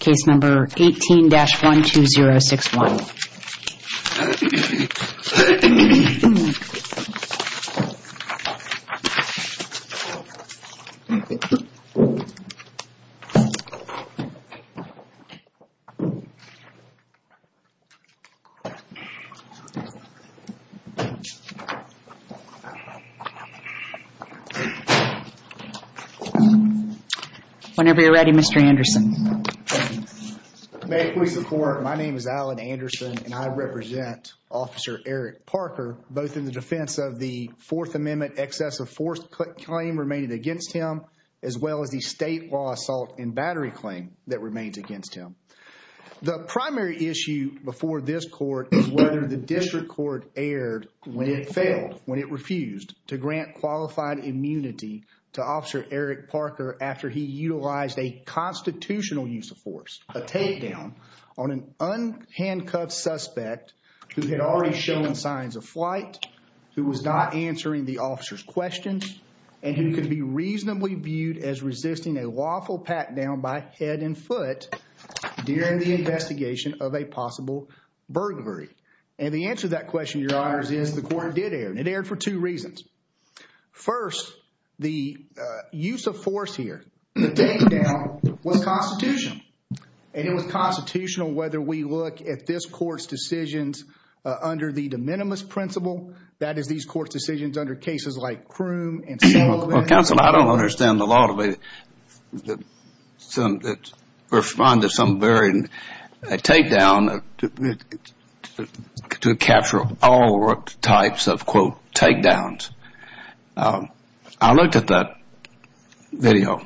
Case number 18-12061. Whenever you're ready, Mr. Anderson. May it please the court, my name is Alan Anderson and I represent Officer Eric Parker, both in the defense of the Fourth Amendment excess of force claim remaining against him, as well as the state law assault and battery claim that remains against him. The primary issue before this court is whether the district court erred when it failed, when it refused to grant qualified immunity to Officer Eric Parker after he utilized a constitutional use of force, a takedown on an unhandcuffed suspect who had already shown signs of flight, who was not answering the officer's questions, and who could be reasonably viewed as resisting a lawful pat down by head and foot during the investigation of a possible burglary. And the answer to that question, your honors, is the court did err and it erred for two reasons. First, the use of force here, the takedown, was constitutional. And it was constitutional whether we look at this court's decisions under the de minimis principle, that is these court's decisions under cases like Croom and Sullivan. Well, counsel, I don't understand the law to respond to some variant takedown to capture all types of, quote, takedowns. I looked at that video.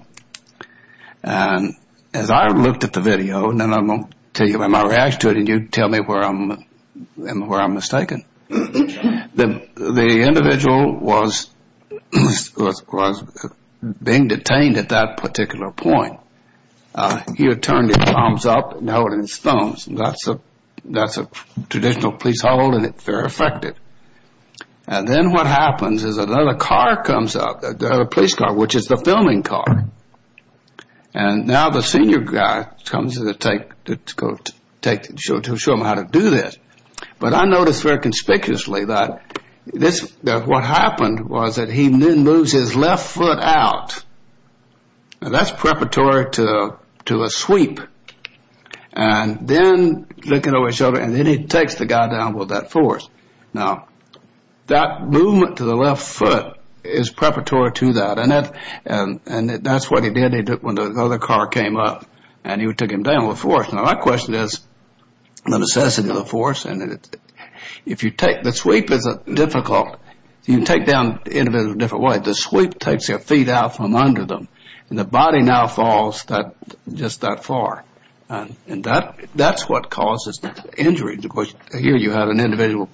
And as I looked at the video, and I'm going to tell you my reaction to it, and you tell me where I'm mistaken. The individual was being detained at that particular point. He had turned his arms up and held it in his thumbs. That's a traditional police hold, and it's very effective. And then what happens is another car comes up, another police car, which is the filming car. And now the senior guy comes to show them how to do this. But I noticed very conspicuously that what happened was that he then moves his left foot out. And that's preparatory to a sweep. And then looking over his shoulder, and then he takes the guy down with that force. Now, that movement to the left foot is preparatory to that. And that's what he did when the other car came up, and he took him down with force. Now, my question is the necessity of the force. And if you take the sweep, is it difficult? You can take down the individual a different way. The sweep takes their feet out from under them, and the body now falls just that far. And that's what causes the injury. Of course, here you have an individual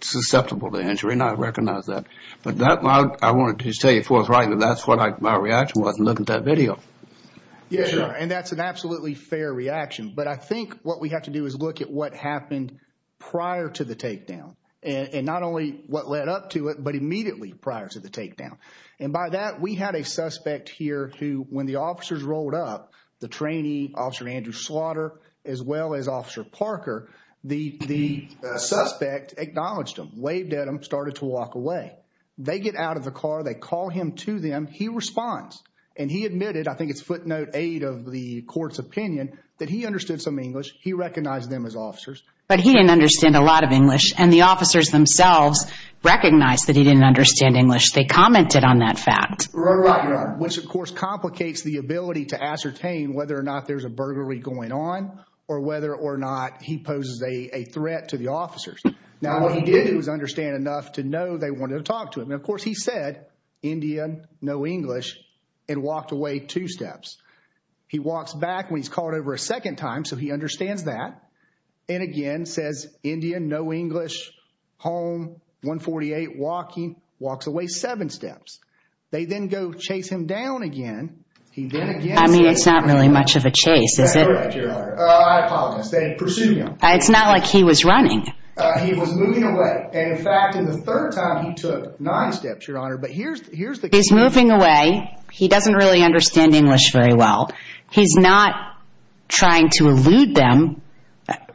susceptible to injury, and I recognize that. But I wanted to tell you forthright that that's what my reaction was in looking at that video. Yeah, and that's an absolutely fair reaction. But I think what we have to do is look at what happened prior to the takedown, and not only what led up to it, but immediately prior to the takedown. And by that, we had a suspect here who, when the officers rolled up, the trainee, Officer Andrew Slaughter, as well as Officer Parker, the suspect acknowledged him, waved at him, started to walk away. They get out of the car. They call him to them. He responds, and he admitted, I think it's footnote eight of the court's opinion, that he understood some English. He recognized them as officers. But he didn't understand a lot of English, and the officers themselves recognized that he didn't understand English. They commented on that fact. Which, of course, complicates the ability to ascertain whether or not there's a burglary going on or whether or not he poses a threat to the officers. Now, what he did was understand enough to know they wanted to talk to him. And, of course, he said, Indian, no English, and walked away two steps. He walks back when he's called over a second time, so he understands that, and again says, Indian, no English, home, 148, walking, walks away seven steps. They then go chase him down again. He then again says, I mean, it's not really much of a chase, is it? That's correct, Your Honor. I apologize. They pursued him. It's not like he was running. He was moving away. And, in fact, in the third time, he took nine steps, Your Honor. But here's the key. He's moving away. He doesn't really understand English very well. He's not trying to elude them.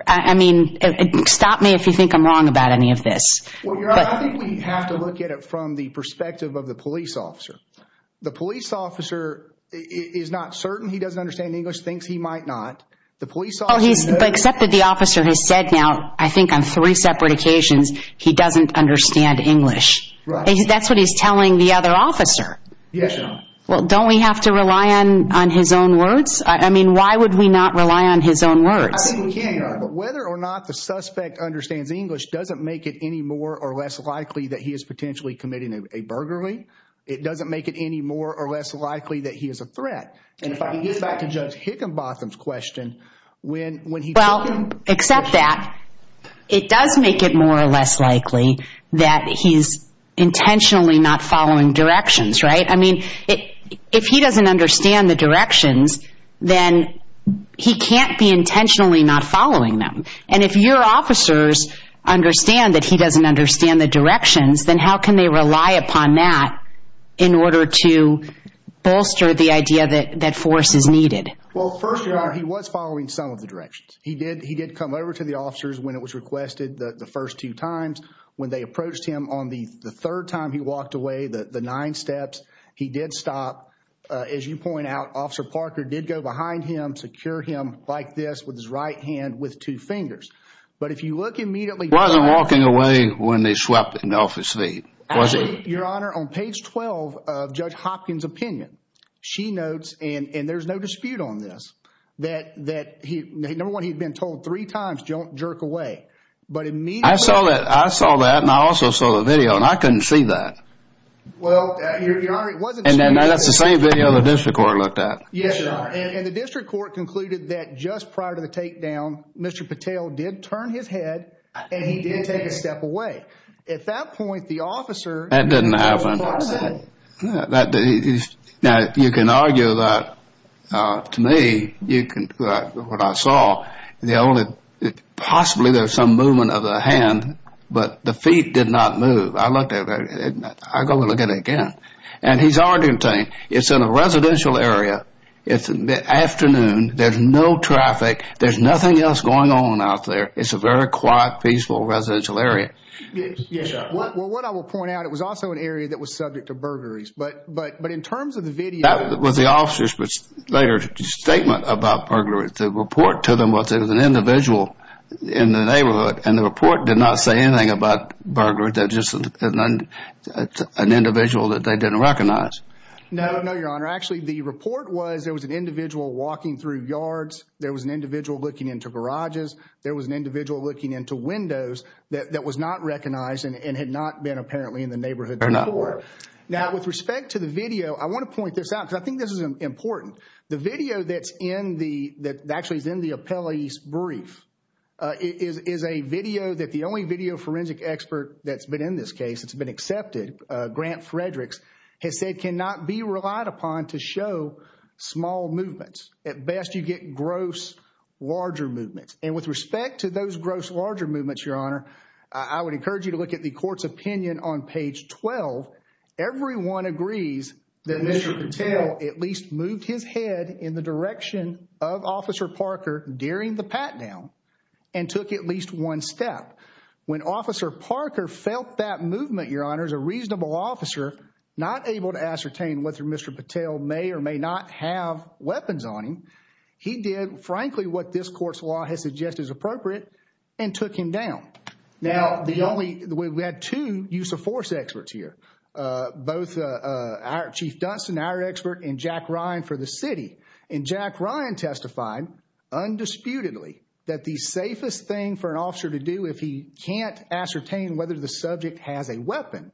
I mean, stop me if you think I'm wrong about any of this. Well, Your Honor, I think we have to look at it from the perspective of the police officer. The police officer is not certain he doesn't understand English, thinks he might not. Except that the officer has said now, I think on three separate occasions, he doesn't understand English. That's what he's telling the other officer. Yes, Your Honor. Well, don't we have to rely on his own words? I mean, why would we not rely on his own words? I think we can, Your Honor. But whether or not the suspect understands English doesn't make it any more or less likely that he is potentially committing a burglary. And if I can get back to Judge Higginbotham's question. Well, except that, it does make it more or less likely that he's intentionally not following directions, right? I mean, if he doesn't understand the directions, then he can't be intentionally not following them. And if your officers understand that he doesn't understand the directions, then how can they rely upon that in order to bolster the idea that force is needed? Well, first of all, he was following some of the directions. He did come over to the officers when it was requested the first two times. When they approached him on the third time he walked away, the nine steps, he did stop. As you point out, Officer Parker did go behind him, secure him like this with his right hand with two fingers. He wasn't walking away when they swept him off his feet, was he? Actually, Your Honor, on page 12 of Judge Hopkins' opinion, she notes, and there's no dispute on this, that number one, he'd been told three times, don't jerk away. I saw that, and I also saw the video, and I couldn't see that. And that's the same video the district court looked at. Yes, Your Honor. And the district court concluded that just prior to the takedown, Mr. Patel did turn his head and he did take a step away. At that point, the officer— That didn't happen. Now, you can argue that, to me, you can—what I saw, the only—possibly there was some movement of the hand, but the feet did not move. I looked at it. I go and look at it again. And he's already obtained. It's in a residential area. It's afternoon. There's no traffic. There's nothing else going on out there. It's a very quiet, peaceful residential area. Yes, Your Honor. Well, what I will point out, it was also an area that was subject to burglaries. But in terms of the video— That was the officer's later statement about burglaries. The report to them was there was an individual in the neighborhood, and the report did not say anything about burglaries. It's just an individual that they didn't recognize. No, Your Honor. Actually, the report was there was an individual walking through yards. There was an individual looking into garages. There was an individual looking into windows that was not recognized and had not been apparently in the neighborhood before. There not were. Now, with respect to the video, I want to point this out because I think this is important. The video that's in the—that actually is in the appellee's brief is a video that the only video forensic expert that's been in this case, that's been accepted, Grant Fredericks, has said cannot be relied upon to show small movements. At best, you get gross, larger movements. And with respect to those gross, larger movements, Your Honor, I would encourage you to look at the court's opinion on page 12. Everyone agrees that Mr. Patel at least moved his head in the direction of Officer Parker during the pat-down and took at least one step. When Officer Parker felt that movement, Your Honor, as a reasonable officer, not able to ascertain whether Mr. Patel may or may not have weapons on him, he did, frankly, what this court's law has suggested is appropriate and took him down. Now, the only—we had two use of force experts here, both our Chief Dunstan, our expert, and Jack Ryan for the city. And Jack Ryan testified, undisputedly, that the safest thing for an officer to do if he can't ascertain whether the subject has a weapon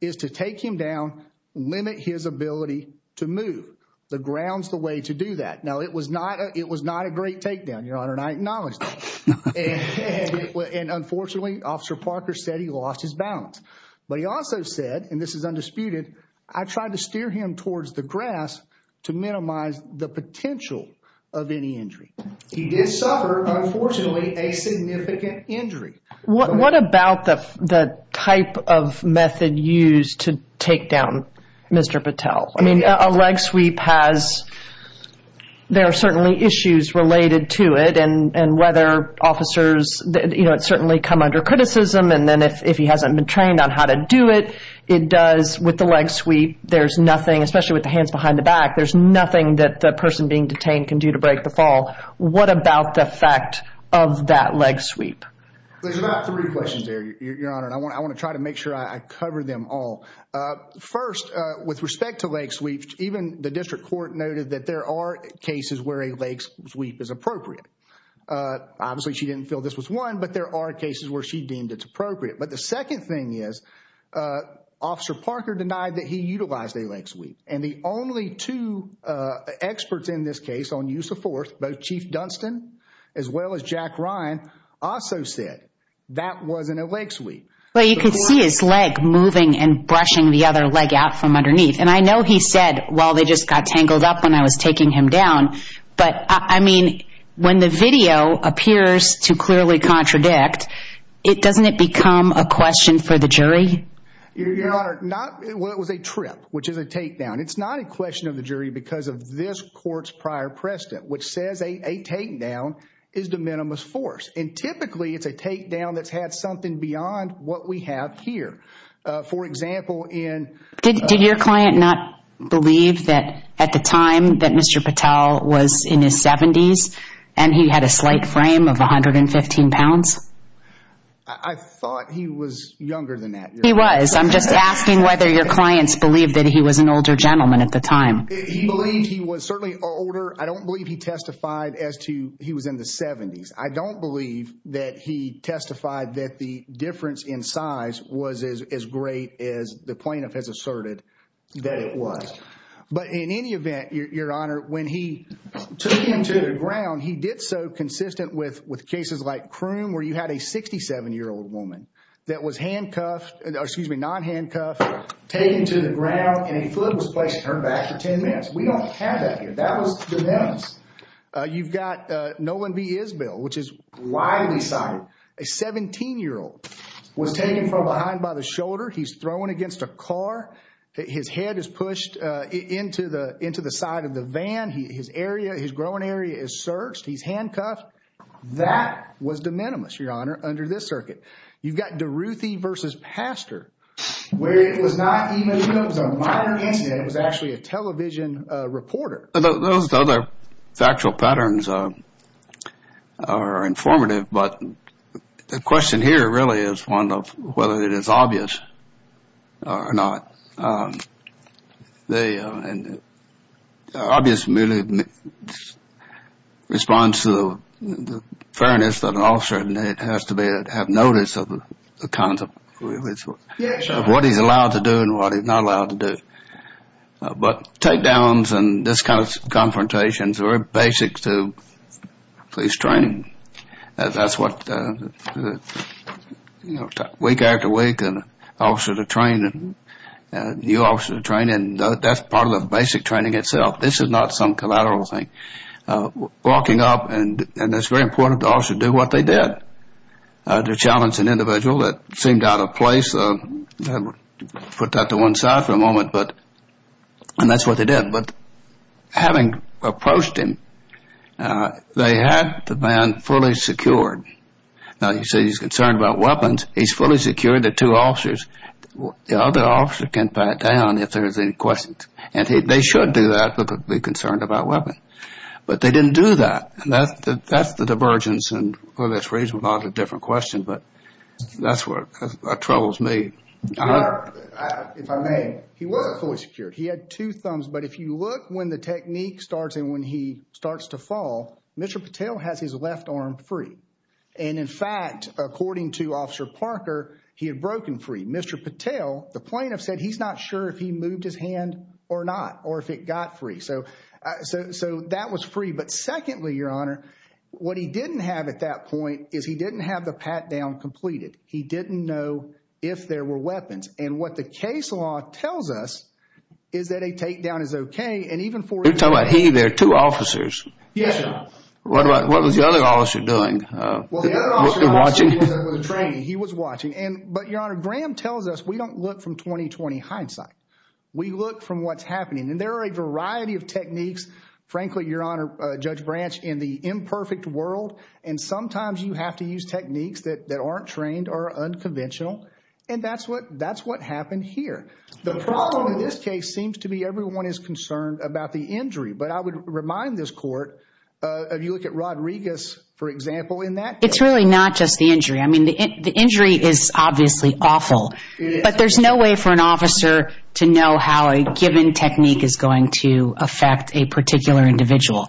is to take him down, limit his ability to move. The ground's the way to do that. Now, it was not—it was not a great takedown, Your Honor, and I acknowledge that. And unfortunately, Officer Parker said he lost his balance. But he also said, and this is undisputed, I tried to steer him towards the grass to minimize the potential of any injury. He did suffer, unfortunately, a significant injury. What about the type of method used to take down Mr. Patel? I mean, a leg sweep has—there are certainly issues related to it. And whether officers—you know, it's certainly come under criticism. And then if he hasn't been trained on how to do it, it does—with the leg sweep, there's nothing, especially with the hands behind the back, there's nothing that the person being detained can do to break the fall. What about the effect of that leg sweep? There's about three questions there, Your Honor, and I want to try to make sure I cover them all. First, with respect to leg sweeps, even the district court noted that there are cases where a leg sweep is appropriate. Obviously, she didn't feel this was one, but there are cases where she deemed it's appropriate. But the second thing is, Officer Parker denied that he utilized a leg sweep. And the only two experts in this case on use of force, both Chief Dunstan as well as Jack Ryan, also said that wasn't a leg sweep. Well, you can see his leg moving and brushing the other leg out from underneath. And I know he said, well, they just got tangled up when I was taking him down. But, I mean, when the video appears to clearly contradict, doesn't it become a question for the jury? Your Honor, not—well, it was a trip, which is a takedown. It's not a question of the jury because of this court's prior precedent, which says a takedown is de minimis force. And typically, it's a takedown that's had something beyond what we have here. For example, in— Did your client not believe that at the time that Mr. Patel was in his 70s and he had a slight frame of 115 pounds? I thought he was younger than that. He was. I'm just asking whether your clients believed that he was an older gentleman at the time. He believed he was certainly older. I don't believe he testified as to he was in the 70s. I don't believe that he testified that the difference in size was as great as the plaintiff has asserted that it was. But in any event, your Honor, when he took him to the ground, he did so consistent with cases like Croon, where you had a 67-year-old woman that was handcuffed—excuse me, not handcuffed, taken to the ground, and a foot was placed in her back for 10 minutes. We don't have that here. That was de minimis. You've got Nolan B. Isbell, which is widely cited. A 17-year-old was taken from behind by the shoulder. He's thrown against a car. His head is pushed into the side of the van. His area, his growing area is searched. He's handcuffed. That was de minimis, Your Honor, under this circuit. You've got DeRuthy v. Pastor, where it was not even—it was a minor incident. It was actually a television reporter. Those other factual patterns are informative, but the question here really is one of whether it is obvious or not. The obvious response to the fairness of an officer has to be to have notice of the kinds of— Yes, Your Honor. —of what he's allowed to do and what he's not allowed to do. But takedowns and this kind of confrontation is very basic to police training. That's what week after week an officer is trained and you officers are trained, and that's part of the basic training itself. This is not some collateral thing. Walking up, and it's very important the officer do what they did, to challenge an individual that seemed out of place. I'll put that to one side for a moment, and that's what they did. But having approached him, they had the man fully secured. Now, you say he's concerned about weapons. He's fully secured. There are two officers. The other officer can pat down if there's any questions, and they should do that but be concerned about weapons. But they didn't do that, and that's the divergence. Well, that raises a lot of different questions, but that's what troubles me. Your Honor, if I may, he wasn't fully secured. He had two thumbs. But if you look when the technique starts and when he starts to fall, Mr. Patel has his left arm free. And, in fact, according to Officer Parker, he had broken free. Mr. Patel, the plaintiff said he's not sure if he moved his hand or not or if it got free. So that was free. But, secondly, Your Honor, what he didn't have at that point is he didn't have the pat-down completed. He didn't know if there were weapons. And what the case law tells us is that a takedown is okay, and even for him. You're talking about he, there are two officers. Yes, sir. What was the other officer doing? Well, the other officer wasn't with the training. He was watching. But, Your Honor, Graham tells us we don't look from 20-20 hindsight. We look from what's happening. And there are a variety of techniques. Frankly, Your Honor, Judge Branch, in the imperfect world, and sometimes you have to use techniques that aren't trained or unconventional. And that's what happened here. The problem in this case seems to be everyone is concerned about the injury. But I would remind this court, if you look at Rodriguez, for example, in that case. It's really not just the injury. I mean, the injury is obviously awful. But there's no way for an officer to know how a given technique is going to affect a particular individual.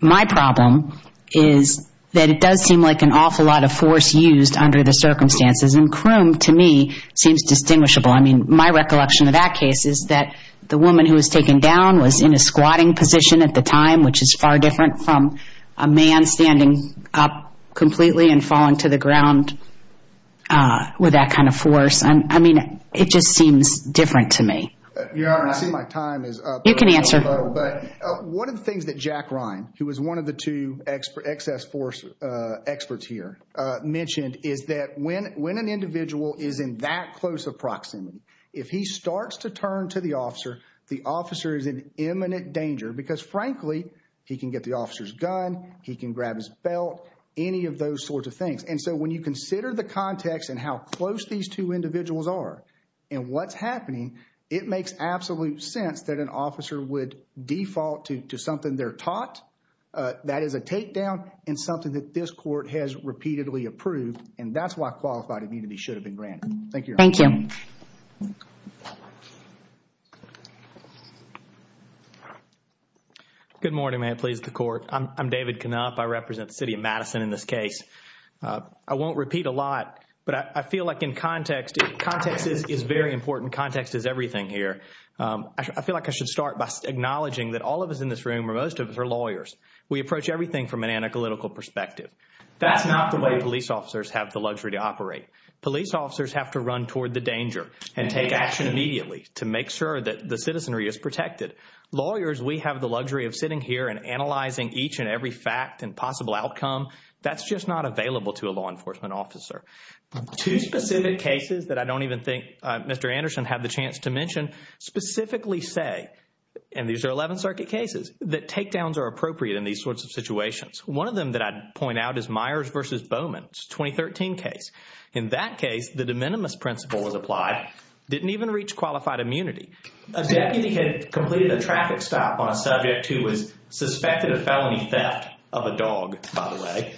My problem is that it does seem like an awful lot of force used under the circumstances. And Croome, to me, seems distinguishable. I mean, my recollection of that case is that the woman who was taken down was in a squatting position at the time, which is far different from a man standing up completely and falling to the ground with that kind of force. I mean, it just seems different to me. Your Honor, I see my time is up. You can answer. One of the things that Jack Ryan, who was one of the two excess force experts here, mentioned, is that when an individual is in that close of proximity, if he starts to turn to the officer, the officer is in imminent danger because, frankly, he can get the officer's gun. He can grab his belt, any of those sorts of things. And so when you consider the context and how close these two individuals are and what's happening, it makes absolute sense that an officer would default to something they're taught. That is a takedown and something that this court has repeatedly approved. And that's why qualified immunity should have been granted. Thank you, Your Honor. Thank you. Good morning. May it please the Court. I'm David Knopp. I represent the city of Madison in this case. I won't repeat a lot, but I feel like in context, context is very important. Context is everything here. I feel like I should start by acknowledging that all of us in this room or most of us are lawyers. We approach everything from an analytical perspective. That's not the way police officers have the luxury to operate. Police officers have to run toward the danger and take action immediately to make sure that the citizenry is protected. Lawyers, we have the luxury of sitting here and analyzing each and every fact and possible outcome. That's just not available to a law enforcement officer. Two specific cases that I don't even think Mr. Anderson had the chance to mention specifically say, and these are 11th Circuit cases, that takedowns are appropriate in these sorts of situations. One of them that I'd point out is Myers v. Bowman's 2013 case. In that case, the de minimis principle was applied, didn't even reach qualified immunity. A deputy had completed a traffic stop on a subject who was suspected of felony theft of a dog, by the way.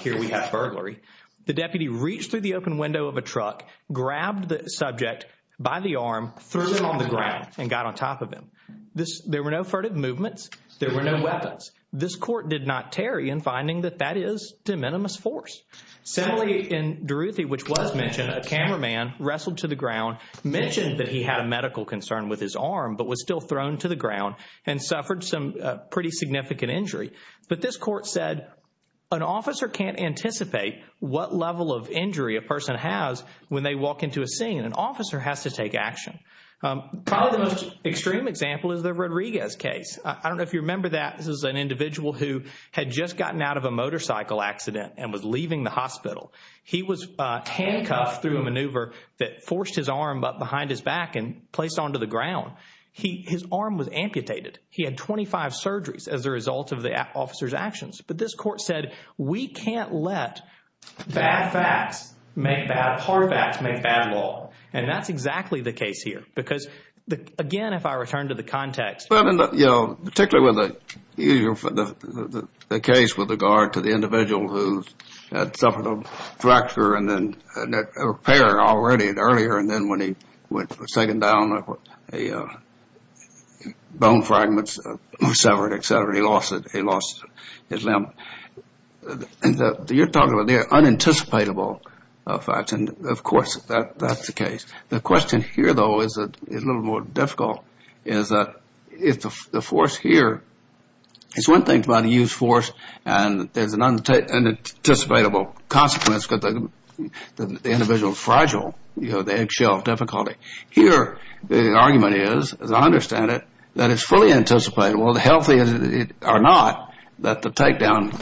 Here we have burglary. The deputy reached through the open window of a truck, grabbed the subject by the arm, threw him on the ground, and got on top of him. There were no furtive movements. There were no weapons. This court did not tarry in finding that that is de minimis force. Similarly, in Duruthi, which was mentioned, a cameraman wrestled to the ground, mentioned that he had a medical concern with his arm, but was still thrown to the ground and suffered some pretty significant injury. But this court said an officer can't anticipate what level of injury a person has when they walk into a scene. An officer has to take action. Probably the most extreme example is the Rodriguez case. I don't know if you remember that. This is an individual who had just gotten out of a motorcycle accident and was leaving the hospital. He was handcuffed through a maneuver that forced his arm up behind his back and placed onto the ground. His arm was amputated. He had 25 surgeries as a result of the officer's actions. But this court said we can't let bad facts make bad law. And that's exactly the case here because, again, if I return to the context. But, you know, particularly with the case with regard to the individual who had suffered a fracture and then a repair already earlier and then when he was taken down, bone fragments were severed, et cetera. He lost it. He lost his limb. And you're talking about the unanticipatable facts. And, of course, that's the case. The question here, though, is a little more difficult, is that if the force here is one thing about a used force and there's an unanticipatable consequence because the individual is fragile, you know, the eggshell of difficulty. Here the argument is, as I understand it, that it's fully anticipatable, healthy or not, that the takedown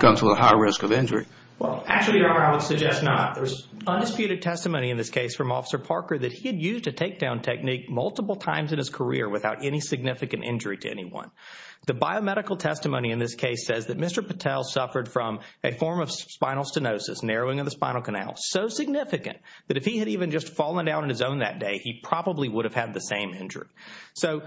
comes with a high risk of injury. Well, actually, Your Honor, I would suggest not. There's undisputed testimony in this case from Officer Parker that he had used a takedown technique multiple times in his career without any significant injury to anyone. The biomedical testimony in this case says that Mr. Patel suffered from a form of spinal stenosis, narrowing of the spinal canal, so significant that if he had even just fallen down on his own that day, he probably would have had the same injury. So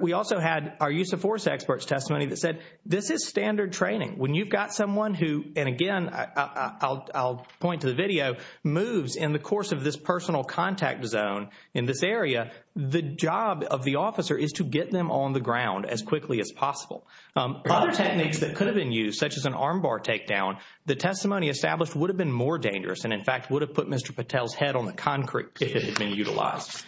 we also had our use of force experts' testimony that said this is standard training. When you've got someone who, and again, I'll point to the video, moves in the course of this personal contact zone in this area, the job of the officer is to get them on the ground as quickly as possible. Other techniques that could have been used, such as an armbar takedown, the testimony established would have been more dangerous and, in fact, would have put Mr. Patel's head on the concrete if it had been utilized.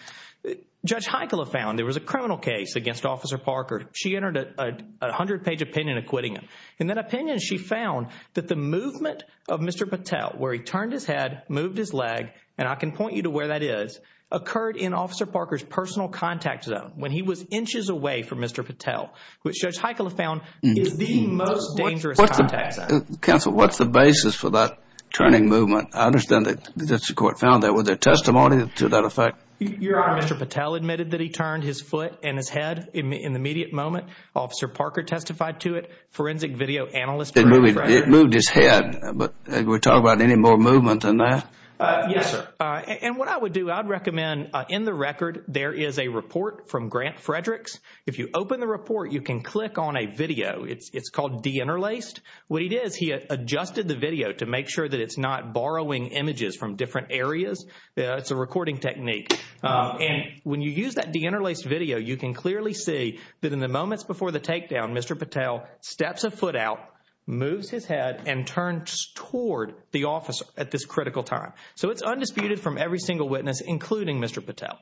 Judge Heikkila found there was a criminal case against Officer Parker. She entered a 100-page opinion acquitting him. In that opinion, she found that the movement of Mr. Patel, where he turned his head, moved his leg, and I can point you to where that is, occurred in Officer Parker's personal contact zone, when he was inches away from Mr. Patel, which Judge Heikkila found is the most dangerous contact zone. Counsel, what's the basis for that turning movement? I understand that the district court found that. Was there testimony to that effect? Your Honor, Mr. Patel admitted that he turned his foot and his head in the immediate moment. Officer Parker testified to it. Forensic video analyst, Grant Fredericks. It moved his head, but we're talking about any more movement than that? Yes, sir. And what I would do, I would recommend, in the record, there is a report from Grant Fredericks. If you open the report, you can click on a video. It's called deinterlaced. What he did is he adjusted the video to make sure that it's not borrowing images from different areas. It's a recording technique. And when you use that deinterlaced video, you can clearly see that in the moments before the takedown, Mr. Patel steps a foot out, moves his head, and turns toward the officer at this critical time. So it's undisputed from every single witness, including Mr. Patel.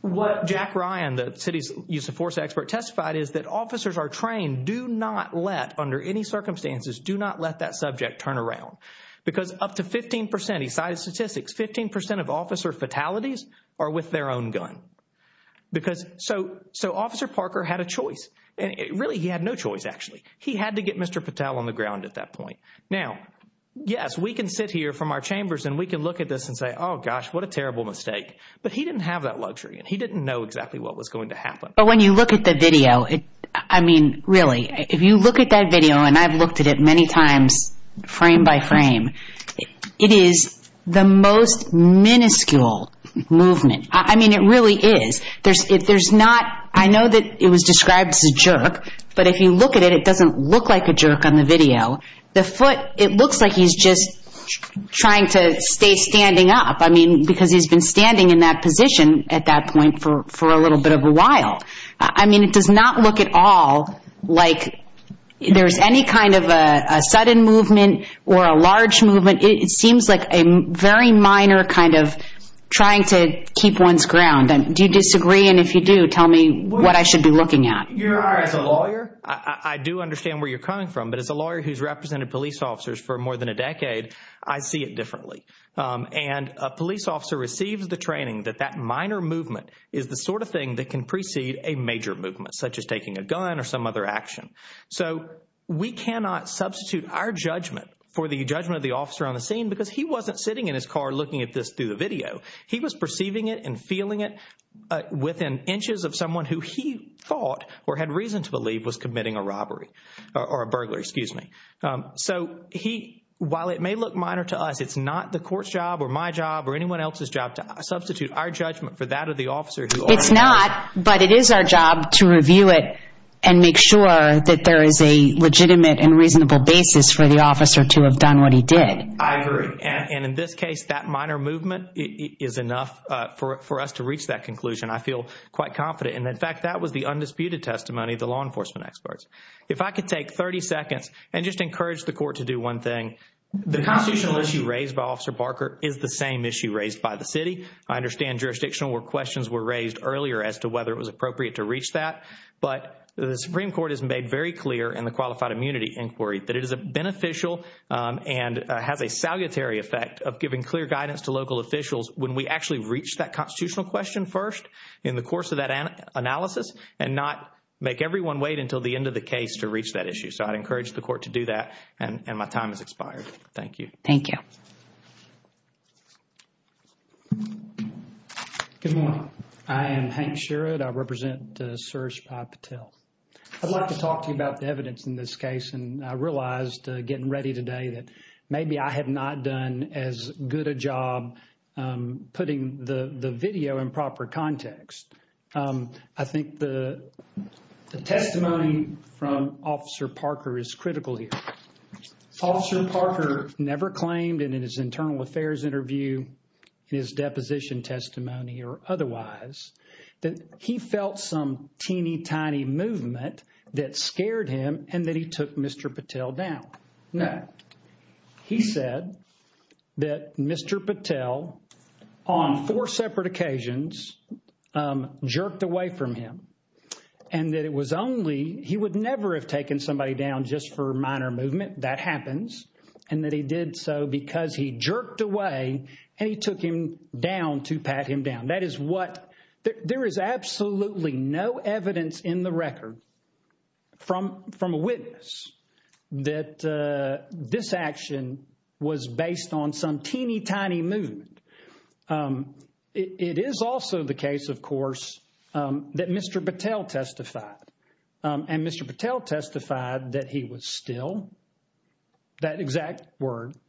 What Jack Ryan, the city's use of force expert, testified is that officers are trained, do not let, under any circumstances, do not let that subject turn around. Because up to 15%, he cited statistics, 15% of officer fatalities are with their own gun. So Officer Parker had a choice. Really, he had no choice, actually. He had to get Mr. Patel on the ground at that point. Now, yes, we can sit here from our chambers and we can look at this and say, oh, gosh, what a terrible mistake. But he didn't have that luxury, and he didn't know exactly what was going to happen. But when you look at the video, I mean, really, if you look at that video, and I've looked at it many times frame by frame, it is the most minuscule movement. I mean, it really is. There's not, I know that it was described as a jerk, but if you look at it, it doesn't look like a jerk on the video. The foot, it looks like he's just trying to stay standing up. I mean, because he's been standing in that position at that point for a little bit of a while. I mean, it does not look at all like there's any kind of a sudden movement or a large movement. It seems like a very minor kind of trying to keep one's ground. Do you disagree? And if you do, tell me what I should be looking at. As a lawyer, I do understand where you're coming from. But as a lawyer who's represented police officers for more than a decade, I see it differently. And a police officer receives the training that that minor movement is the sort of thing that can precede a major movement, such as taking a gun or some other action. So we cannot substitute our judgment for the judgment of the officer on the scene because he wasn't sitting in his car looking at this through the video. He was perceiving it and feeling it within inches of someone who he thought or had reason to believe was committing a robbery or a burglary, excuse me. So he, while it may look minor to us, it's not the court's job or my job or anyone else's job to substitute our judgment for that of the officer. It's not, but it is our job to review it and make sure that there is a legitimate and reasonable basis for the officer to have done what he did. I agree. And in this case, that minor movement is enough for us to reach that conclusion. I feel quite confident. And in fact, that was the undisputed testimony of the law enforcement experts. If I could take 30 seconds and just encourage the court to do one thing. The constitutional issue raised by Officer Barker is the same issue raised by the city. I understand jurisdictional questions were raised earlier as to whether it was appropriate to reach that. But the Supreme Court has made very clear in the Qualified Immunity Inquiry that it is beneficial and has a salutary effect of giving clear guidance to local officials when we actually reach that constitutional question first in the course of that analysis and not make everyone wait until the end of the case to reach that issue. So I'd encourage the court to do that. And my time has expired. Thank you. Thank you. Good morning. I am Hank Sherrod. I represent Surge Patel. I'd like to talk to you about the evidence in this case. And I realized getting ready today that maybe I have not done as good a job putting the video in proper context. I think the testimony from Officer Barker is critical here. Officer Barker never claimed in his internal affairs interview, in his deposition testimony or otherwise, that he felt some teeny tiny movement that scared him and that he took Mr. Patel down. No. He said that Mr. Patel, on four separate occasions, jerked away from him. And that it was only – he would never have taken somebody down just for minor movement. That happens. And that he did so because he jerked away and he took him down to pat him down. That is what – there is absolutely no evidence in the record from a witness that this action was based on some teeny tiny movement. It is also the case, of course, that Mr. Patel testified. And Mr. Patel testified that he was still – that exact word –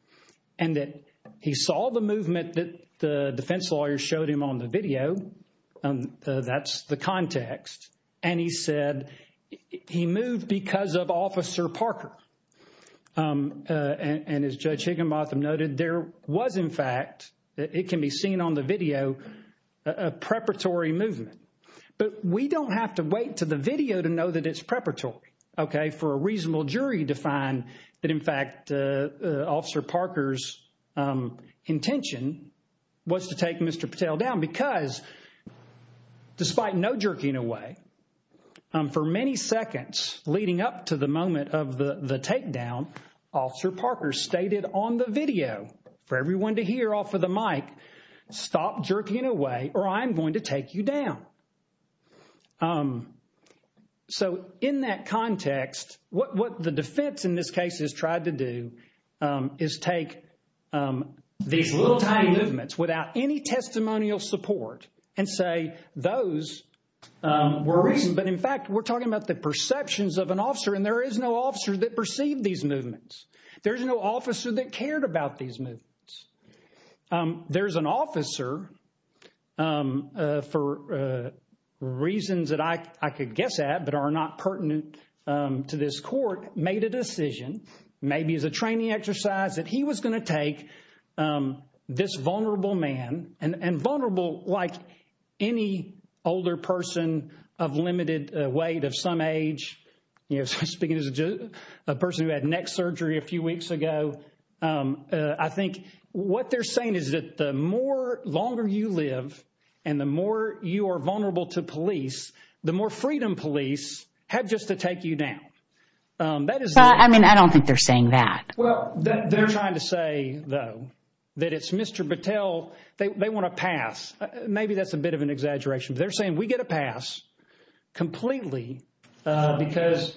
and that he saw the movement that the defense lawyers showed him on the video. That's the context. And he said he moved because of Officer Barker. And as Judge Higginbotham noted, there was in fact – it can be seen on the video – a preparatory movement. But we don't have to wait to the video to know that it's preparatory. Okay? For a reasonable jury to find that in fact Officer Parker's intention was to take Mr. Patel down. Because despite no jerking away, for many seconds leading up to the moment of the takedown, Officer Parker stated on the video for everyone to hear off of the mic, stop jerking away or I'm going to take you down. So in that context, what the defense in this case has tried to do is take these little tiny movements without any testimonial support and say those were reason. There's no officer that cared about these movements. There's an officer, for reasons that I could guess at but are not pertinent to this court, made a decision, maybe as a training exercise, that he was going to take this vulnerable man – and vulnerable like any older person of limited weight, of some age, speaking as a person who had neck surgery a few weeks ago. I think what they're saying is that the more longer you live and the more you are vulnerable to police, the more freedom police have just to take you down. I mean, I don't think they're saying that. Well, they're trying to say, though, that it's Mr. Patel. They want a pass. Maybe that's a bit of an exaggeration. They're saying we get a pass completely because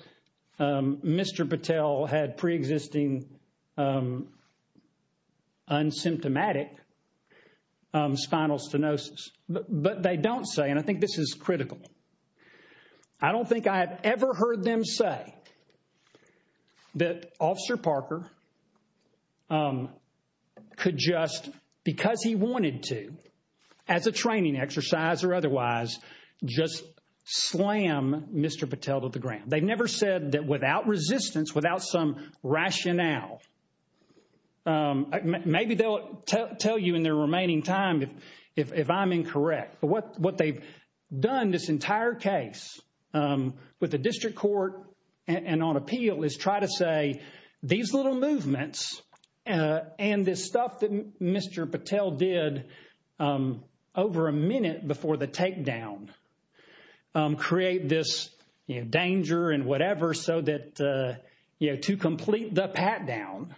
Mr. Patel had preexisting unsymptomatic spinal stenosis. But they don't say, and I think this is critical. I don't think I have ever heard them say that Officer Parker could just, because he wanted to, as a training exercise or otherwise, just slam Mr. Patel to the ground. They've never said that without resistance, without some rationale. Maybe they'll tell you in their remaining time if I'm incorrect. But what they've done this entire case with the district court and on appeal is try to say these little movements and this stuff that Mr. Patel did over a minute before the takedown create this danger and whatever so that to complete the pat down,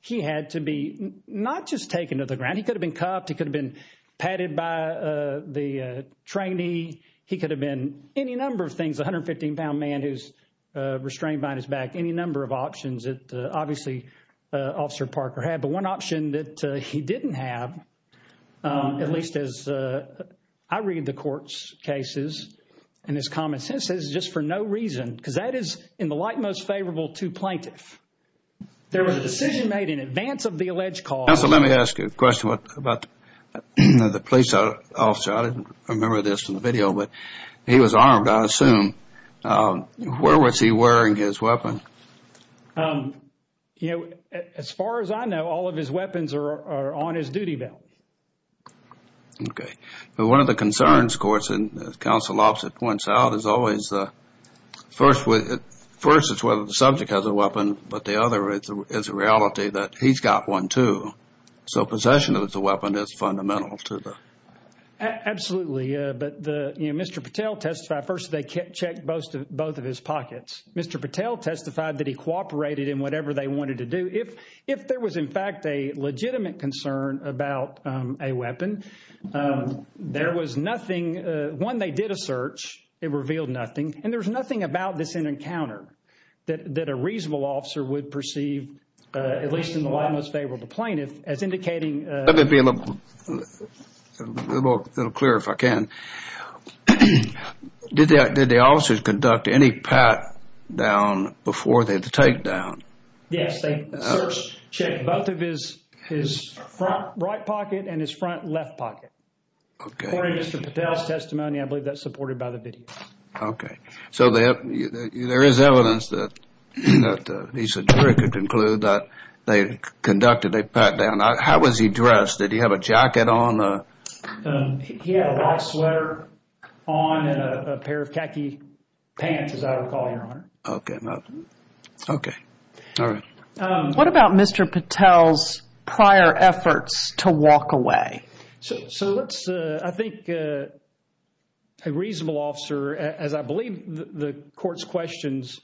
he had to be not just taken to the ground. He could have been cuffed. He could have been patted by the trainee. He could have been any number of things. A hundred fifteen pound man who's restrained behind his back. Any number of options that obviously Officer Parker had. But one option that he didn't have, at least as I read the court's cases and his comments, this is just for no reason because that is in the light most favorable to plaintiff. There was a decision made in advance of the alleged cause. So let me ask you a question about the police officer. I didn't remember this in the video, but he was armed, I assume. Where was he wearing his weapon? You know, as far as I know, all of his weapons are on his duty belt. OK. Well, one of the concerns, of course, and as counsel opposite points out, is always the first. First is whether the subject has a weapon. But the other is a reality that he's got one, too. So possession of the weapon is fundamental to the. Absolutely. But the Mr. Patel testified first. They can't check both of both of his pockets. Mr. Patel testified that he cooperated in whatever they wanted to do. If there was, in fact, a legitimate concern about a weapon, there was nothing. One, they did a search. It revealed nothing. And there's nothing about this encounter that a reasonable officer would perceive, at least in the light most favorable to plaintiff, as indicating. Let me be a little clearer if I can. Did the officers conduct any pat down before they had to take down? Yes. They searched, checked both of his front right pocket and his front left pocket. OK. According to Mr. Patel's testimony, I believe that's supported by the video. OK. So there is evidence that he could conclude that they conducted a pat down. How was he dressed? Did he have a jacket on? He had a white sweater on and a pair of khaki pants, as I recall, Your Honor. OK. OK. All right. What about Mr. Patel's prior efforts to walk away? So let's, I think a reasonable officer, as I believe the court's questions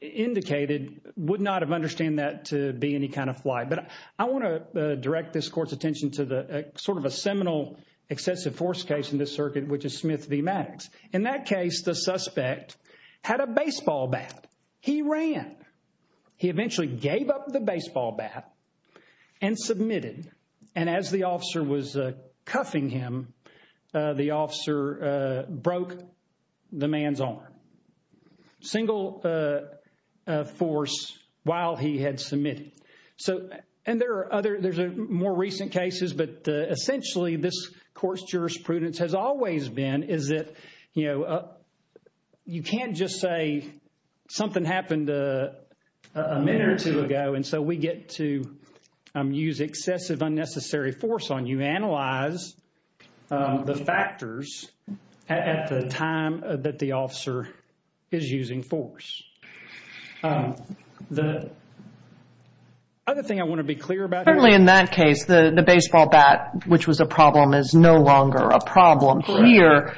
indicated, would not have understood that to be any kind of fly. But I want to direct this court's attention to sort of a seminal excessive force case in this circuit, which is Smith v. Maddox. In that case, the suspect had a baseball bat. He ran. He eventually gave up the baseball bat and submitted. And as the officer was cuffing him, the officer broke the man's arm. Single force while he had submitted. And there are other, there's more recent cases. But essentially, this court's jurisprudence has always been is that, you know, you can't just say something happened a minute or two ago. And so we get to use excessive unnecessary force on you. Analyze the factors at the time that the officer is using force. The other thing I want to be clear about. Certainly in that case, the baseball bat, which was a problem, is no longer a problem. Here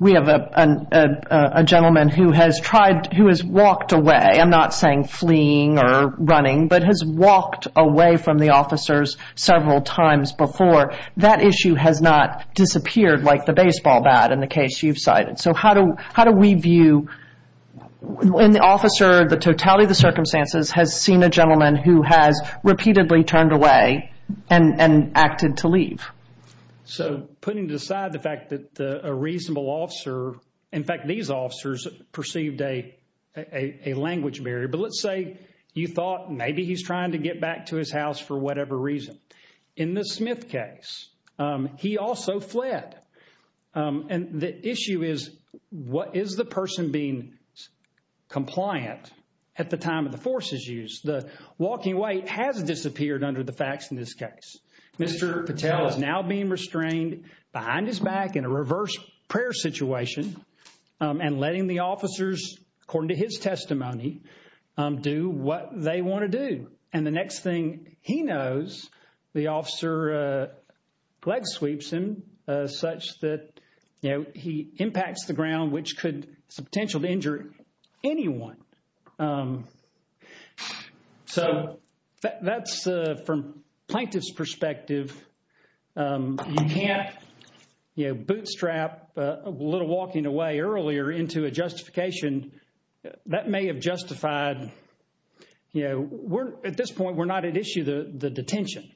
we have a gentleman who has tried, who has walked away. I'm not saying fleeing or running, but has walked away from the officers several times before. That issue has not disappeared like the baseball bat in the case you've cited. So how do we view when the officer, the totality of the circumstances, has seen a gentleman who has repeatedly turned away and acted to leave? So putting aside the fact that a reasonable officer, in fact, these officers perceived a language barrier. But let's say you thought maybe he's trying to get back to his house for whatever reason. In the Smith case, he also fled. And the issue is, what is the person being compliant at the time of the force's use? The walking away has disappeared under the facts in this case. Mr. Patel is now being restrained behind his back in a reverse prayer situation and letting the officers, according to his testimony, do what they want to do. And the next thing he knows, the officer leg sweeps him such that he impacts the ground, which could have the potential to injure anyone. So that's from plaintiff's perspective. You can't bootstrap a little walking away earlier into a justification that may have justified. At this point, we're not at issue, the detention.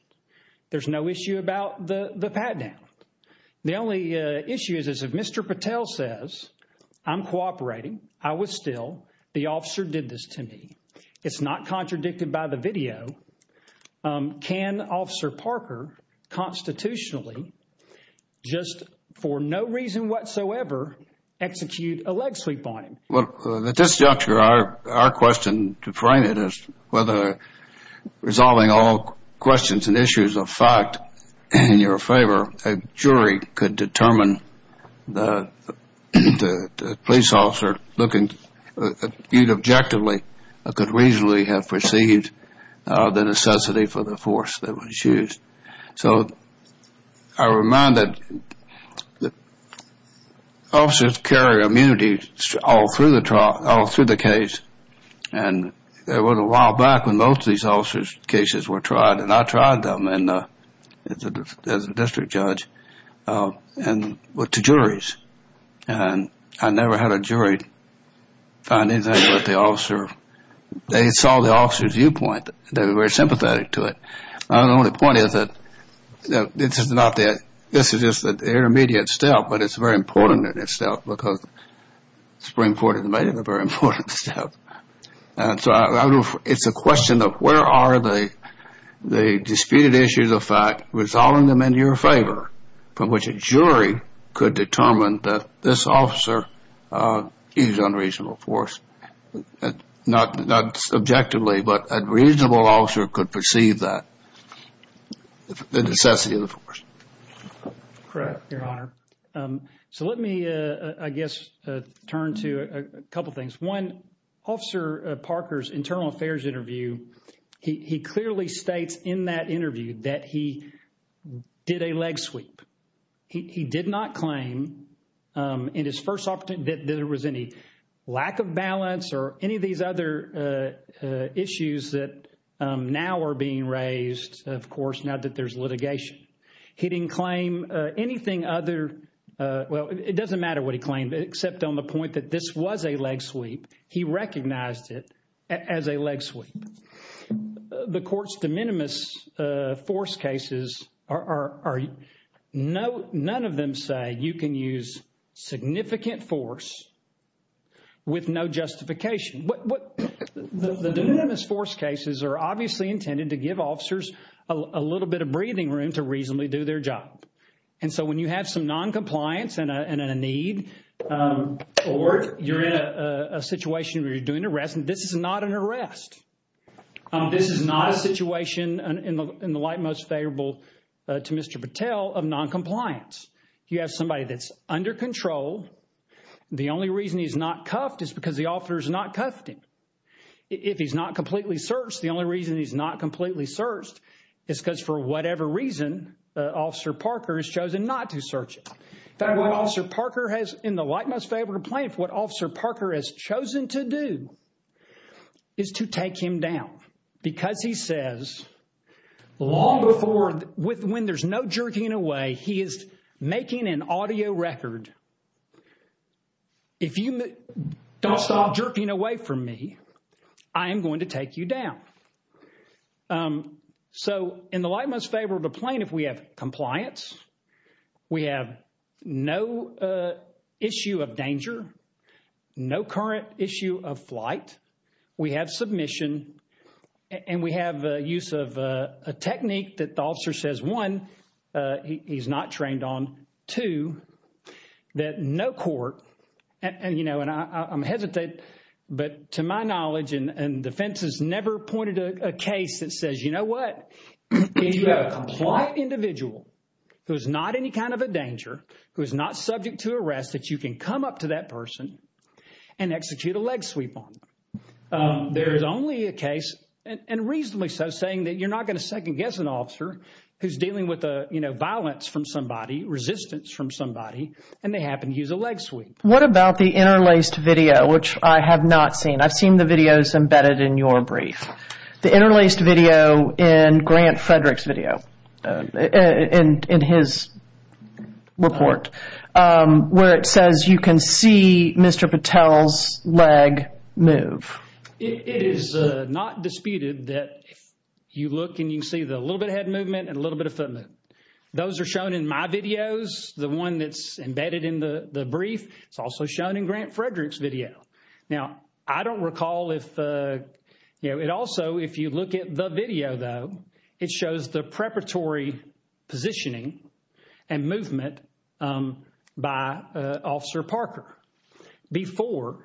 There's no issue about the pat down. The only issue is if Mr. Patel says, I'm cooperating, I was still, the officer did this to me. It's not contradicted by the video. Can Officer Parker constitutionally, just for no reason whatsoever, execute a leg sweep on him? Well, at this juncture, our question to frame it is whether resolving all questions and issues of fact in your favor, a jury could determine the police officer looking objectively could reasonably have perceived the necessity for the force that was used. So I remind that the officers carry immunity all through the trial, all through the case. And there was a while back when most of these officers' cases were tried, and I tried them as a district judge and went to juries. And I never had a jury find anything about the officer. They saw the officer's viewpoint. They were very sympathetic to it. The only point is that this is not the – this is just an intermediate step, but it's very important in itself because Supreme Court has made it a very important step. And so it's a question of where are the disputed issues of fact, resolving them in your favor, from which a jury could determine that this officer used unreasonable force, not subjectively, but a reasonable officer could perceive that, the necessity of the force. Correct, Your Honor. So let me, I guess, turn to a couple things. One, Officer Parker's internal affairs interview, he clearly states in that interview that he did a leg sweep. He did not claim in his first – that there was any lack of balance or any of these other issues that now are being raised, of course, now that there's litigation. He didn't claim anything other – well, it doesn't matter what he claimed, except on the point that this was a leg sweep. He recognized it as a leg sweep. The court's de minimis force cases are – none of them say you can use significant force with no justification. The de minimis force cases are obviously intended to give officers a little bit of breathing room to reasonably do their job. And so when you have some noncompliance and a need or you're in a situation where you're doing an arrest, this is not an arrest. This is not a situation in the light most favorable to Mr. Patel of noncompliance. You have somebody that's under control. The only reason he's not cuffed is because the officer has not cuffed him. If he's not completely searched, the only reason he's not completely searched is because for whatever reason, Officer Parker has chosen not to search him. In fact, what Officer Parker has – in the light most favorable complaint, what Officer Parker has chosen to do is to take him down because he says long before – when there's no jerking away, he is making an audio record. If you don't stop jerking away from me, I am going to take you down. So in the light most favorable complaint, if we have compliance, we have no issue of danger, no current issue of flight, we have submission, and we have use of a technique that the officer says one, he's not trained on, that no court – and I'm hesitant, but to my knowledge, and defense has never pointed to a case that says, you know what, if you have a compliant individual who is not any kind of a danger, who is not subject to arrest, that you can come up to that person and execute a leg sweep on them. There is only a case, and reasonably so, saying that you're not going to second guess an officer who's dealing with a violence from somebody, resistance from somebody, and they happen to use a leg sweep. What about the interlaced video, which I have not seen? I've seen the videos embedded in your brief. The interlaced video in Grant Frederick's video, in his report, where it says you can see Mr. Patel's leg move. It is not disputed that if you look and you can see the little bit of head movement and a little bit of foot movement. Those are shown in my videos. The one that's embedded in the brief is also shown in Grant Frederick's video. Now, I don't recall if – it also, if you look at the video, though, it shows the preparatory positioning and movement by Officer Parker before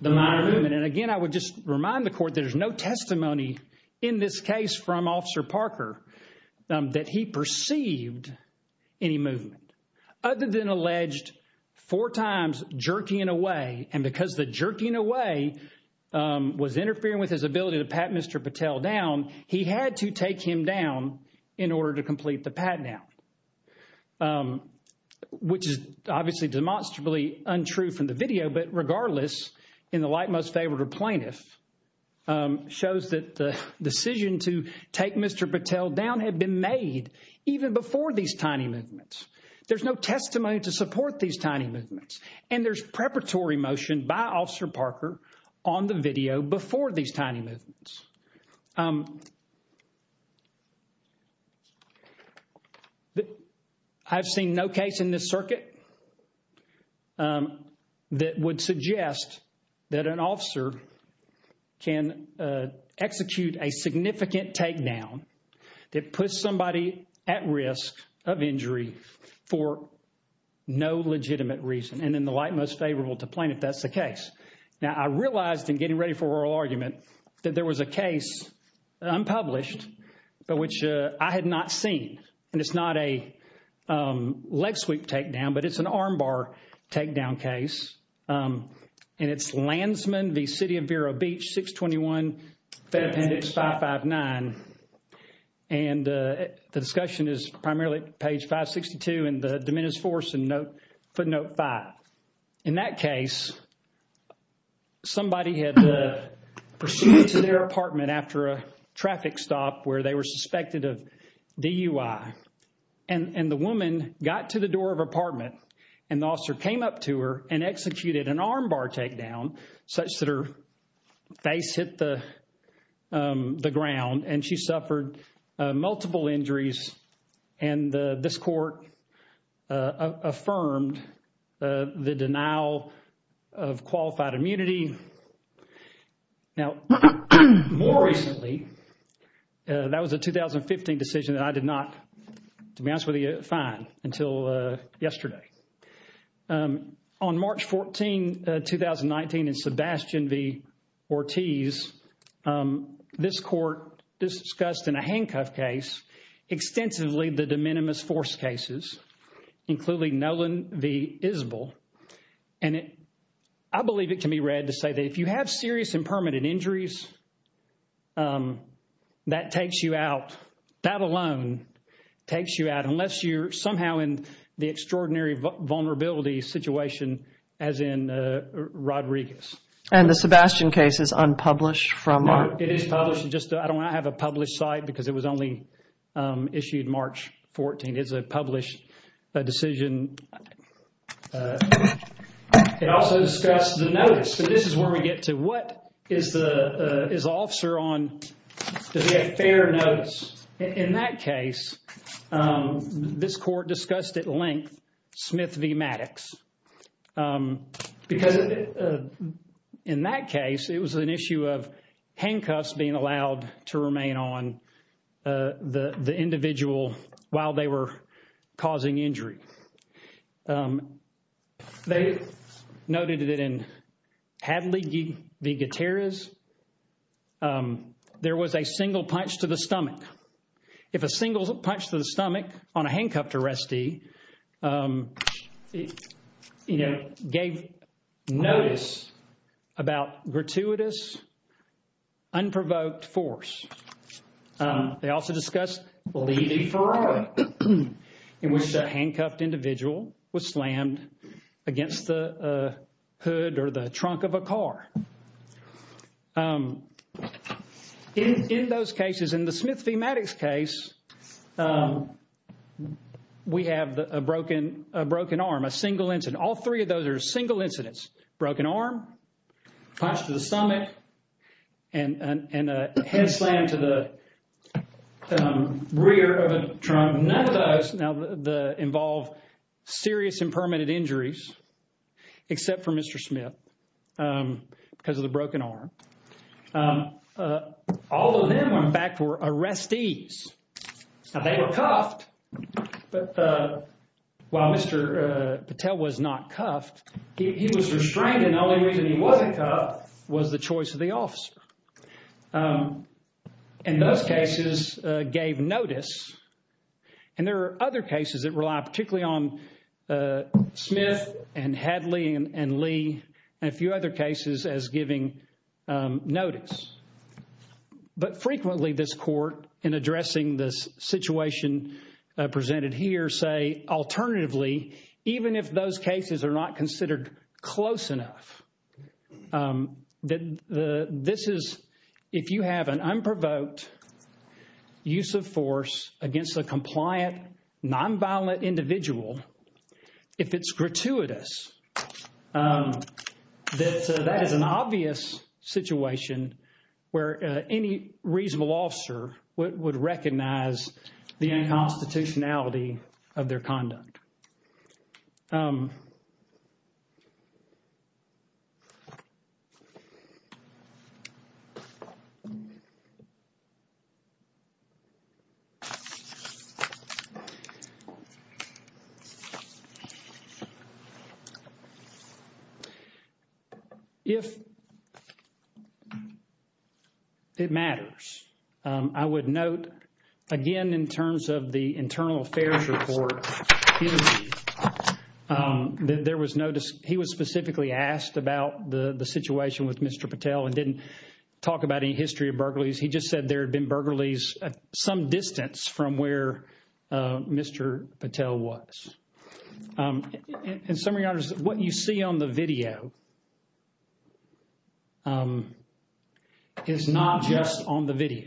the minor movement. And again, I would just remind the court there's no testimony in this case from Officer Parker that he perceived any movement. Other than alleged four times jerking away, and because the jerking away was interfering with his ability to pat Mr. Patel down, he had to take him down in order to complete the pat down, which is obviously demonstrably untrue from the video. But regardless, in the light most favored or plaintiff, shows that the decision to take Mr. Patel down had been made even before these tiny movements. There's no testimony to support these tiny movements. And there's preparatory motion by Officer Parker on the video before these tiny movements. I've seen no case in this circuit that would suggest that an officer can execute a significant take down that puts somebody at risk of injury for no legitimate reason. And in the light most favorable to plaintiff, that's the case. Now, I realized in getting ready for oral argument that there was a case unpublished, but which I had not seen. And it's not a leg sweep takedown, but it's an armbar takedown case. And it's Landsman v. City of Vero Beach, 621 Fed Appendix 559. And the discussion is primarily page 562 and the diminished force and footnote 5. In that case, somebody had pursued to their apartment after a traffic stop where they were suspected of DUI. And the woman got to the door of apartment and the officer came up to her and executed an armbar takedown such that her face hit the ground. And she suffered multiple injuries. And this court affirmed the denial of qualified immunity. Now, more recently, that was a 2015 decision that I did not, to be honest with you, find until yesterday. On March 14, 2019, in Sebastian v. Ortiz, this court discussed in a handcuff case extensively the de minimis force cases, including Nolan v. Isbell. And I believe it can be read to say that if you have serious and permanent injuries, that takes you out. That alone takes you out unless you're somehow in the extraordinary vulnerability situation as in Rodriguez. And the Sebastian case is unpublished from our... It also discussed the notice. So this is where we get to what is the officer on? Does he have fair notice? In that case, this court discussed at length Smith v. Maddox. Because in that case, it was an issue of handcuffs being allowed to remain on the individual while they were causing injury. They noted that in Hadley v. Gutierrez, there was a single punch to the stomach. If a single punch to the stomach on a handcuffed arrestee gave notice about gratuitous, unprovoked force. They also discussed Levy v. Ferreira, in which a handcuffed individual was slammed against the hood or the trunk of a car. In those cases, in the Smith v. Maddox case, we have a broken arm, a single incident. All three of those are single incidents. Broken arm, punch to the stomach, and a head slam to the rear of a trunk. None of those involve serious impermanent injuries except for Mr. Smith because of the broken arm. All of them went back for arrestees. Now, they were cuffed, but while Mr. Patel was not cuffed, he was restrained. And the only reason he wasn't cuffed was the choice of the officer. And those cases gave notice. And there are other cases that rely particularly on Smith and Hadley and Lee and a few other cases as giving notice. But frequently, this court, in addressing this situation presented here, say, alternatively, even if those cases are not considered close enough, that this is, if you have an unprovoked use of force against a compliant nonviolent individual, if it's gratuitous, that that is an obvious situation where any reasonable officer would recognize the unconstitutionality of their conduct. If it matters, I would note, again, in terms of the internal affairs report, that there was no, he was specifically asked about the situation with Mr. Patel and didn't talk about any history of burglaries. He just said there had been burglaries some distance from where Mr. Patel was. In some regards, what you see on the video is not just on the video.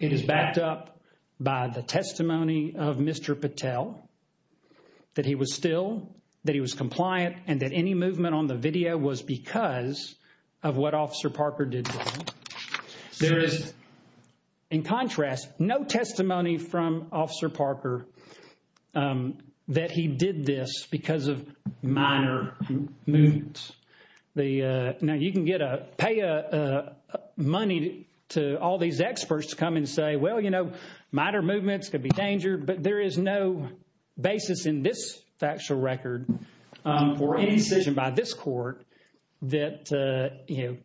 It is backed up by the testimony of Mr. Patel that he was still, that he was compliant and that any movement on the video was because of what Officer Parker did wrong. There is, in contrast, no testimony from Officer Parker that he did this because of minor movements. Now, you can get a, pay money to all these experts to come and say, well, you know, minor movements could be danger, but there is no basis in this factual record for any decision by this court that, you know,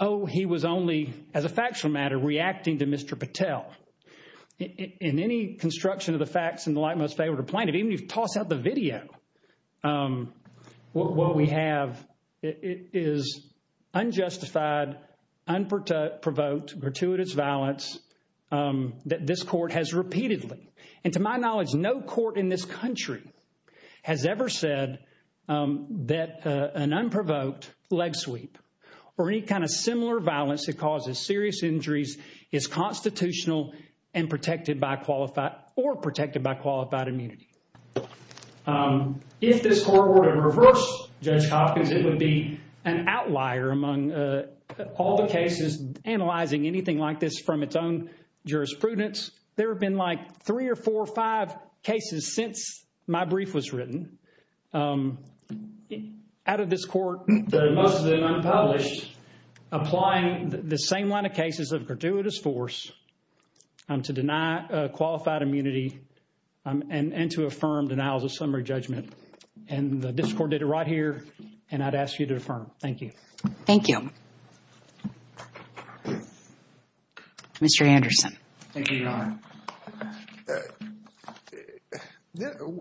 oh, he was only, as a factual matter, reacting to Mr. Patel. In any construction of the facts in the light most favorable to plaintiff, even if you toss out the video, what we have is unjustified, unprovoked, gratuitous violence that this court has repeatedly, and to my knowledge, no court in this country has ever said that an unprovoked leg sweep or any kind of similar violence that causes serious injuries is constitutional and protected by qualified or protected by qualified immunity. If this court were to reverse Judge Hopkins, it would be an outlier among all the cases analyzing anything like this from its own jurisprudence. There have been like three or four or five cases since my brief was written out of this court. Most of them unpublished, applying the same line of cases of gratuitous force to deny qualified immunity and to affirm denials of summary judgment. And the district court did it right here, and I'd ask you to affirm. Thank you. Thank you. Thank you, Your Honor.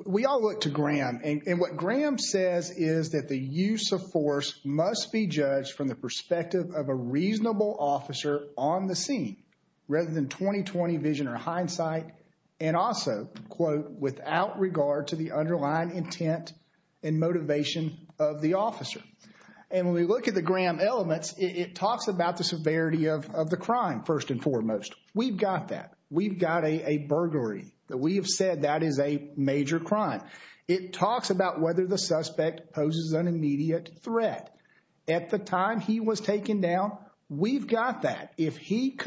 We all look to Graham, and what Graham says is that the use of force must be judged from the perspective of a reasonable officer on the scene, rather than 20-20 vision or hindsight, and also, quote, without regard to the underlying intent and motivation of the officer. And when we look at the Graham elements, it talks about the severity of the crime, first and foremost. We've got that. We've got a burglary. We have said that is a major crime. It talks about whether the suspect poses an immediate threat. At the time he was taken down, we've got that. If he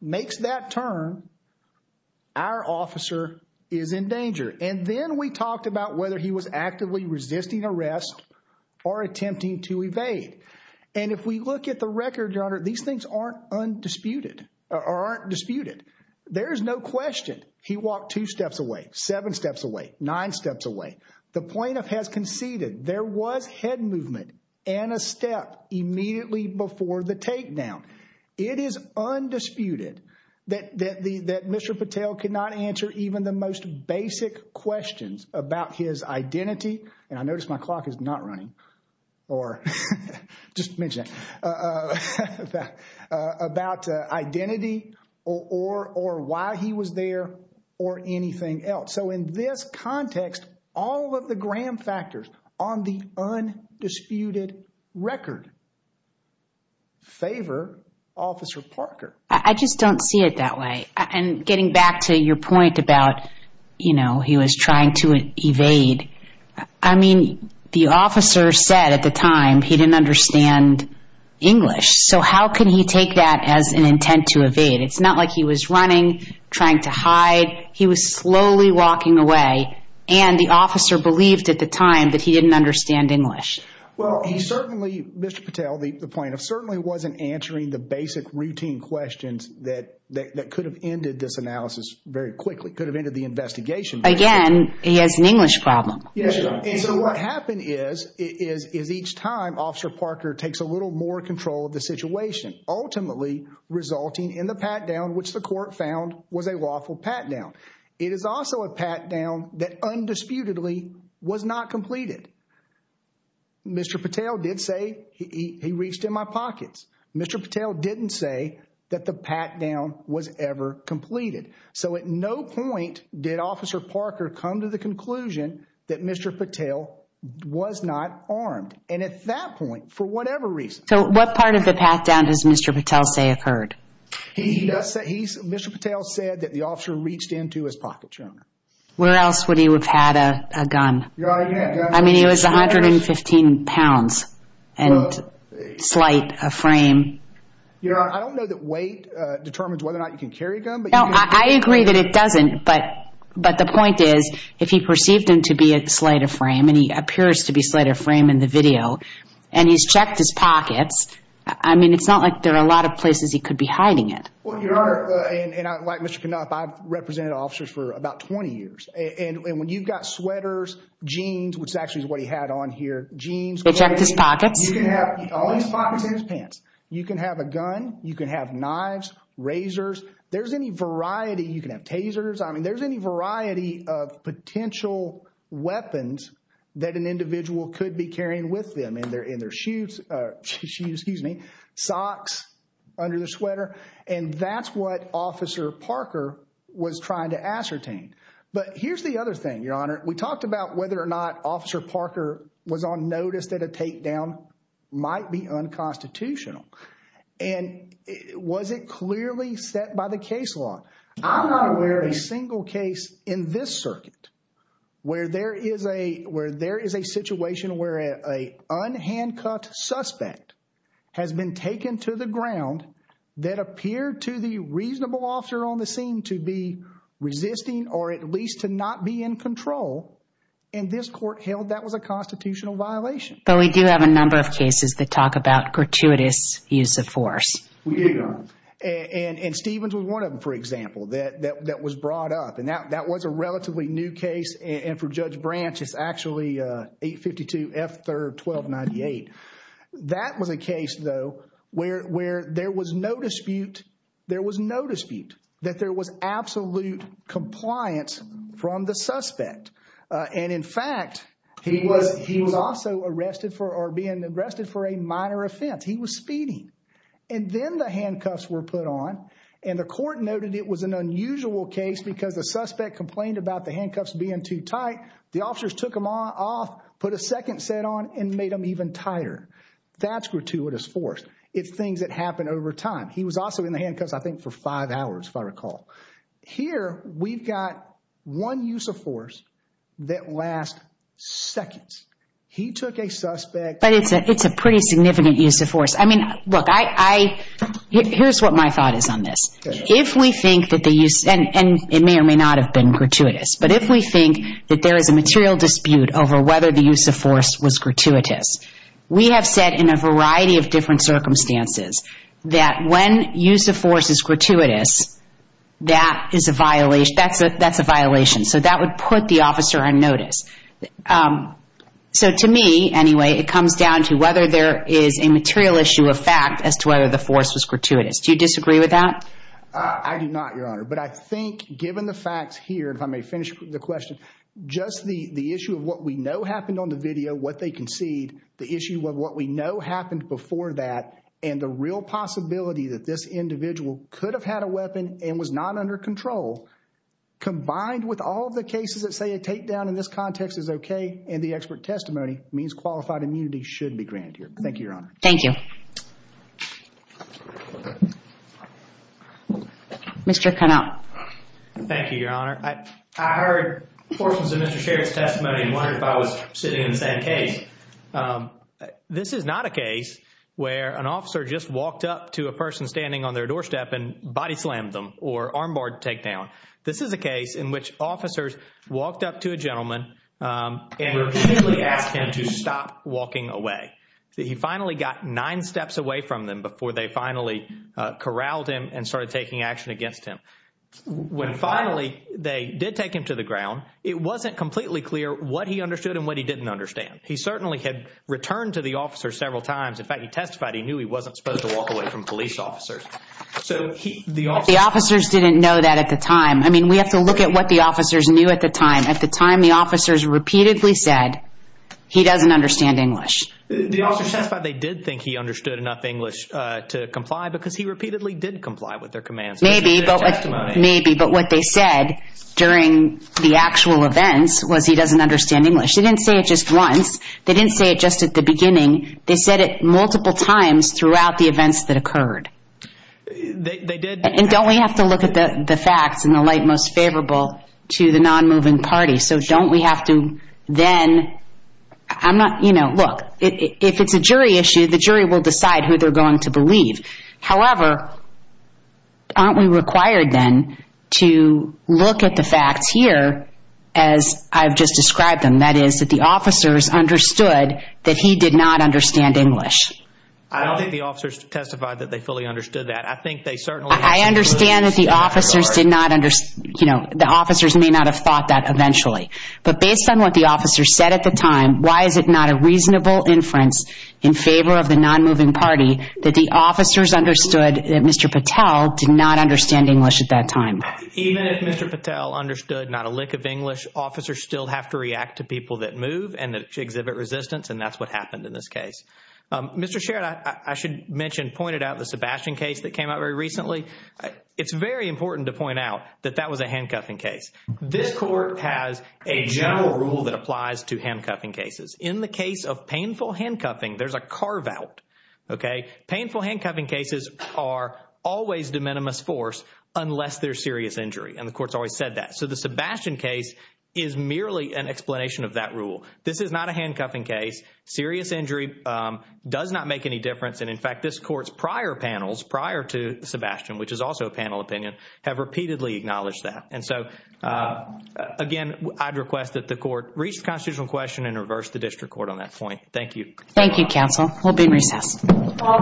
makes that turn, our officer is in danger. And then we talked about whether he was actively resisting arrest or attempting to evade. And if we look at the record, Your Honor, these things aren't undisputed or aren't disputed. There is no question he walked two steps away, seven steps away, nine steps away. The plaintiff has conceded there was head movement and a step immediately before the takedown. It is undisputed that Mr. Patel cannot answer even the most basic questions about his identity. And I notice my clock is not running. Or just mention that. About identity or why he was there or anything else. So in this context, all of the Graham factors on the undisputed record favor Officer Parker. I just don't see it that way. And getting back to your point about, you know, he was trying to evade. I mean, the officer said at the time he didn't understand English. So how can he take that as an intent to evade? It's not like he was running, trying to hide. He was slowly walking away. And the officer believed at the time that he didn't understand English. Well, he certainly, Mr. Patel, the plaintiff, certainly wasn't answering the basic routine questions that could have ended this analysis very quickly. Could have ended the investigation. Again, he has an English problem. And so what happened is, is each time Officer Parker takes a little more control of the situation, ultimately resulting in the pat-down, which the court found was a lawful pat-down. It is also a pat-down that undisputedly was not completed. Mr. Patel did say he reached in my pockets. Mr. Patel didn't say that the pat-down was ever completed. So at no point did Officer Parker come to the conclusion that Mr. Patel was not armed. And at that point, for whatever reason. So what part of the pat-down does Mr. Patel say occurred? Mr. Patel said that the officer reached into his pockets, Your Honor. Where else would he have had a gun? I mean, he was 115 pounds and slight of frame. Your Honor, I don't know that weight determines whether or not you can carry a gun. No, I agree that it doesn't. But the point is, if he perceived him to be slight of frame, and he appears to be slight of frame in the video, and he's checked his pockets. I mean, it's not like there are a lot of places he could be hiding it. Well, Your Honor, and like Mr. Knopf, I've represented officers for about 20 years. And when you've got sweaters, jeans, which is actually what he had on here, jeans. He checked his pockets. All his pockets and his pants. You can have a gun. You can have knives, razors. There's any variety. You can have tasers. I mean, there's any variety of potential weapons that an individual could be carrying with them. I mean, in their shoes, excuse me, socks, under their sweater. And that's what Officer Parker was trying to ascertain. But here's the other thing, Your Honor. We talked about whether or not Officer Parker was on notice that a takedown might be unconstitutional. And was it clearly set by the case law? I'm not aware of a single case in this circuit where there is a situation where an unhandcuffed suspect has been taken to the ground that appeared to the reasonable officer on the scene to be resisting or at least to not be in control. And this court held that was a constitutional violation. But we do have a number of cases that talk about gratuitous use of force. We do, Your Honor. And Stevens was one of them, for example, that was brought up. And that was a relatively new case. And for Judge Branch, it's actually 852 F. 3rd 1298. That was a case, though, where there was no dispute. There was no dispute that there was absolute compliance from the suspect. And, in fact, he was also arrested for or being arrested for a minor offense. He was speeding. And then the handcuffs were put on. And the court noted it was an unusual case because the suspect complained about the handcuffs being too tight. The officers took them off, put a second set on, and made them even tighter. That's gratuitous force. It's things that happen over time. He was also in the handcuffs, I think, for five hours, if I recall. Here, we've got one use of force that lasts seconds. He took a suspect. But it's a pretty significant use of force. I mean, look, here's what my thought is on this. If we think that the use, and it may or may not have been gratuitous, but if we think that there is a material dispute over whether the use of force was gratuitous, we have said in a variety of different circumstances that when use of force is gratuitous, that is a violation. That's a violation. So that would put the officer on notice. So to me, anyway, it comes down to whether there is a material issue of fact as to whether the force was gratuitous. Do you disagree with that? I do not, Your Honor. But I think given the facts here, if I may finish the question, just the issue of what we know happened on the video, what they concede, the issue of what we know happened before that, and the real possibility that this individual could have had a weapon and was not under control, combined with all of the cases that say a takedown in this context is okay, and the expert testimony means qualified immunity should be granted here. Thank you, Your Honor. Thank you. Mr. Connell. Thank you, Your Honor. I heard portions of Mr. Sherrod's testimony and wondered if I was sitting in the same case. This is not a case where an officer just walked up to a person standing on their doorstep and body slammed them or armbarred takedown. This is a case in which officers walked up to a gentleman and repeatedly asked him to stop walking away. He finally got nine steps away from them before they finally corralled him and started taking action against him. When finally they did take him to the ground, it wasn't completely clear what he understood and what he didn't understand. He certainly had returned to the officer several times. In fact, he testified he knew he wasn't supposed to walk away from police officers. The officers didn't know that at the time. I mean, we have to look at what the officers knew at the time. At the time, the officers repeatedly said he doesn't understand English. The officers testified they did think he understood enough English to comply because he repeatedly did comply with their commands. Maybe, but what they said during the actual events was he doesn't understand English. They didn't say it just once. They didn't say it just at the beginning. They said it multiple times throughout the events that occurred. And don't we have to look at the facts in the light most favorable to the non-moving party? So don't we have to then, I'm not, you know, look, if it's a jury issue, the jury will decide who they're going to believe. However, aren't we required then to look at the facts here as I've just described them? And that is that the officers understood that he did not understand English. I don't think the officers testified that they fully understood that. I think they certainly… I understand that the officers did not, you know, the officers may not have thought that eventually. But based on what the officers said at the time, why is it not a reasonable inference in favor of the non-moving party that the officers understood that Mr. Patel did not understand English at that time? Even if Mr. Patel understood not a lick of English, officers still have to react to people that move and exhibit resistance, and that's what happened in this case. Mr. Sherrod, I should mention, pointed out the Sebastian case that came out very recently. It's very important to point out that that was a handcuffing case. This court has a general rule that applies to handcuffing cases. In the case of painful handcuffing, there's a carve-out, okay? And the court's always said that. So the Sebastian case is merely an explanation of that rule. This is not a handcuffing case. Serious injury does not make any difference. And, in fact, this court's prior panels, prior to Sebastian, which is also a panel opinion, have repeatedly acknowledged that. And so, again, I'd request that the court reach the constitutional question and reverse the district court on that point. Thank you. Thank you, counsel. We'll be in recess. All rise. Thank you.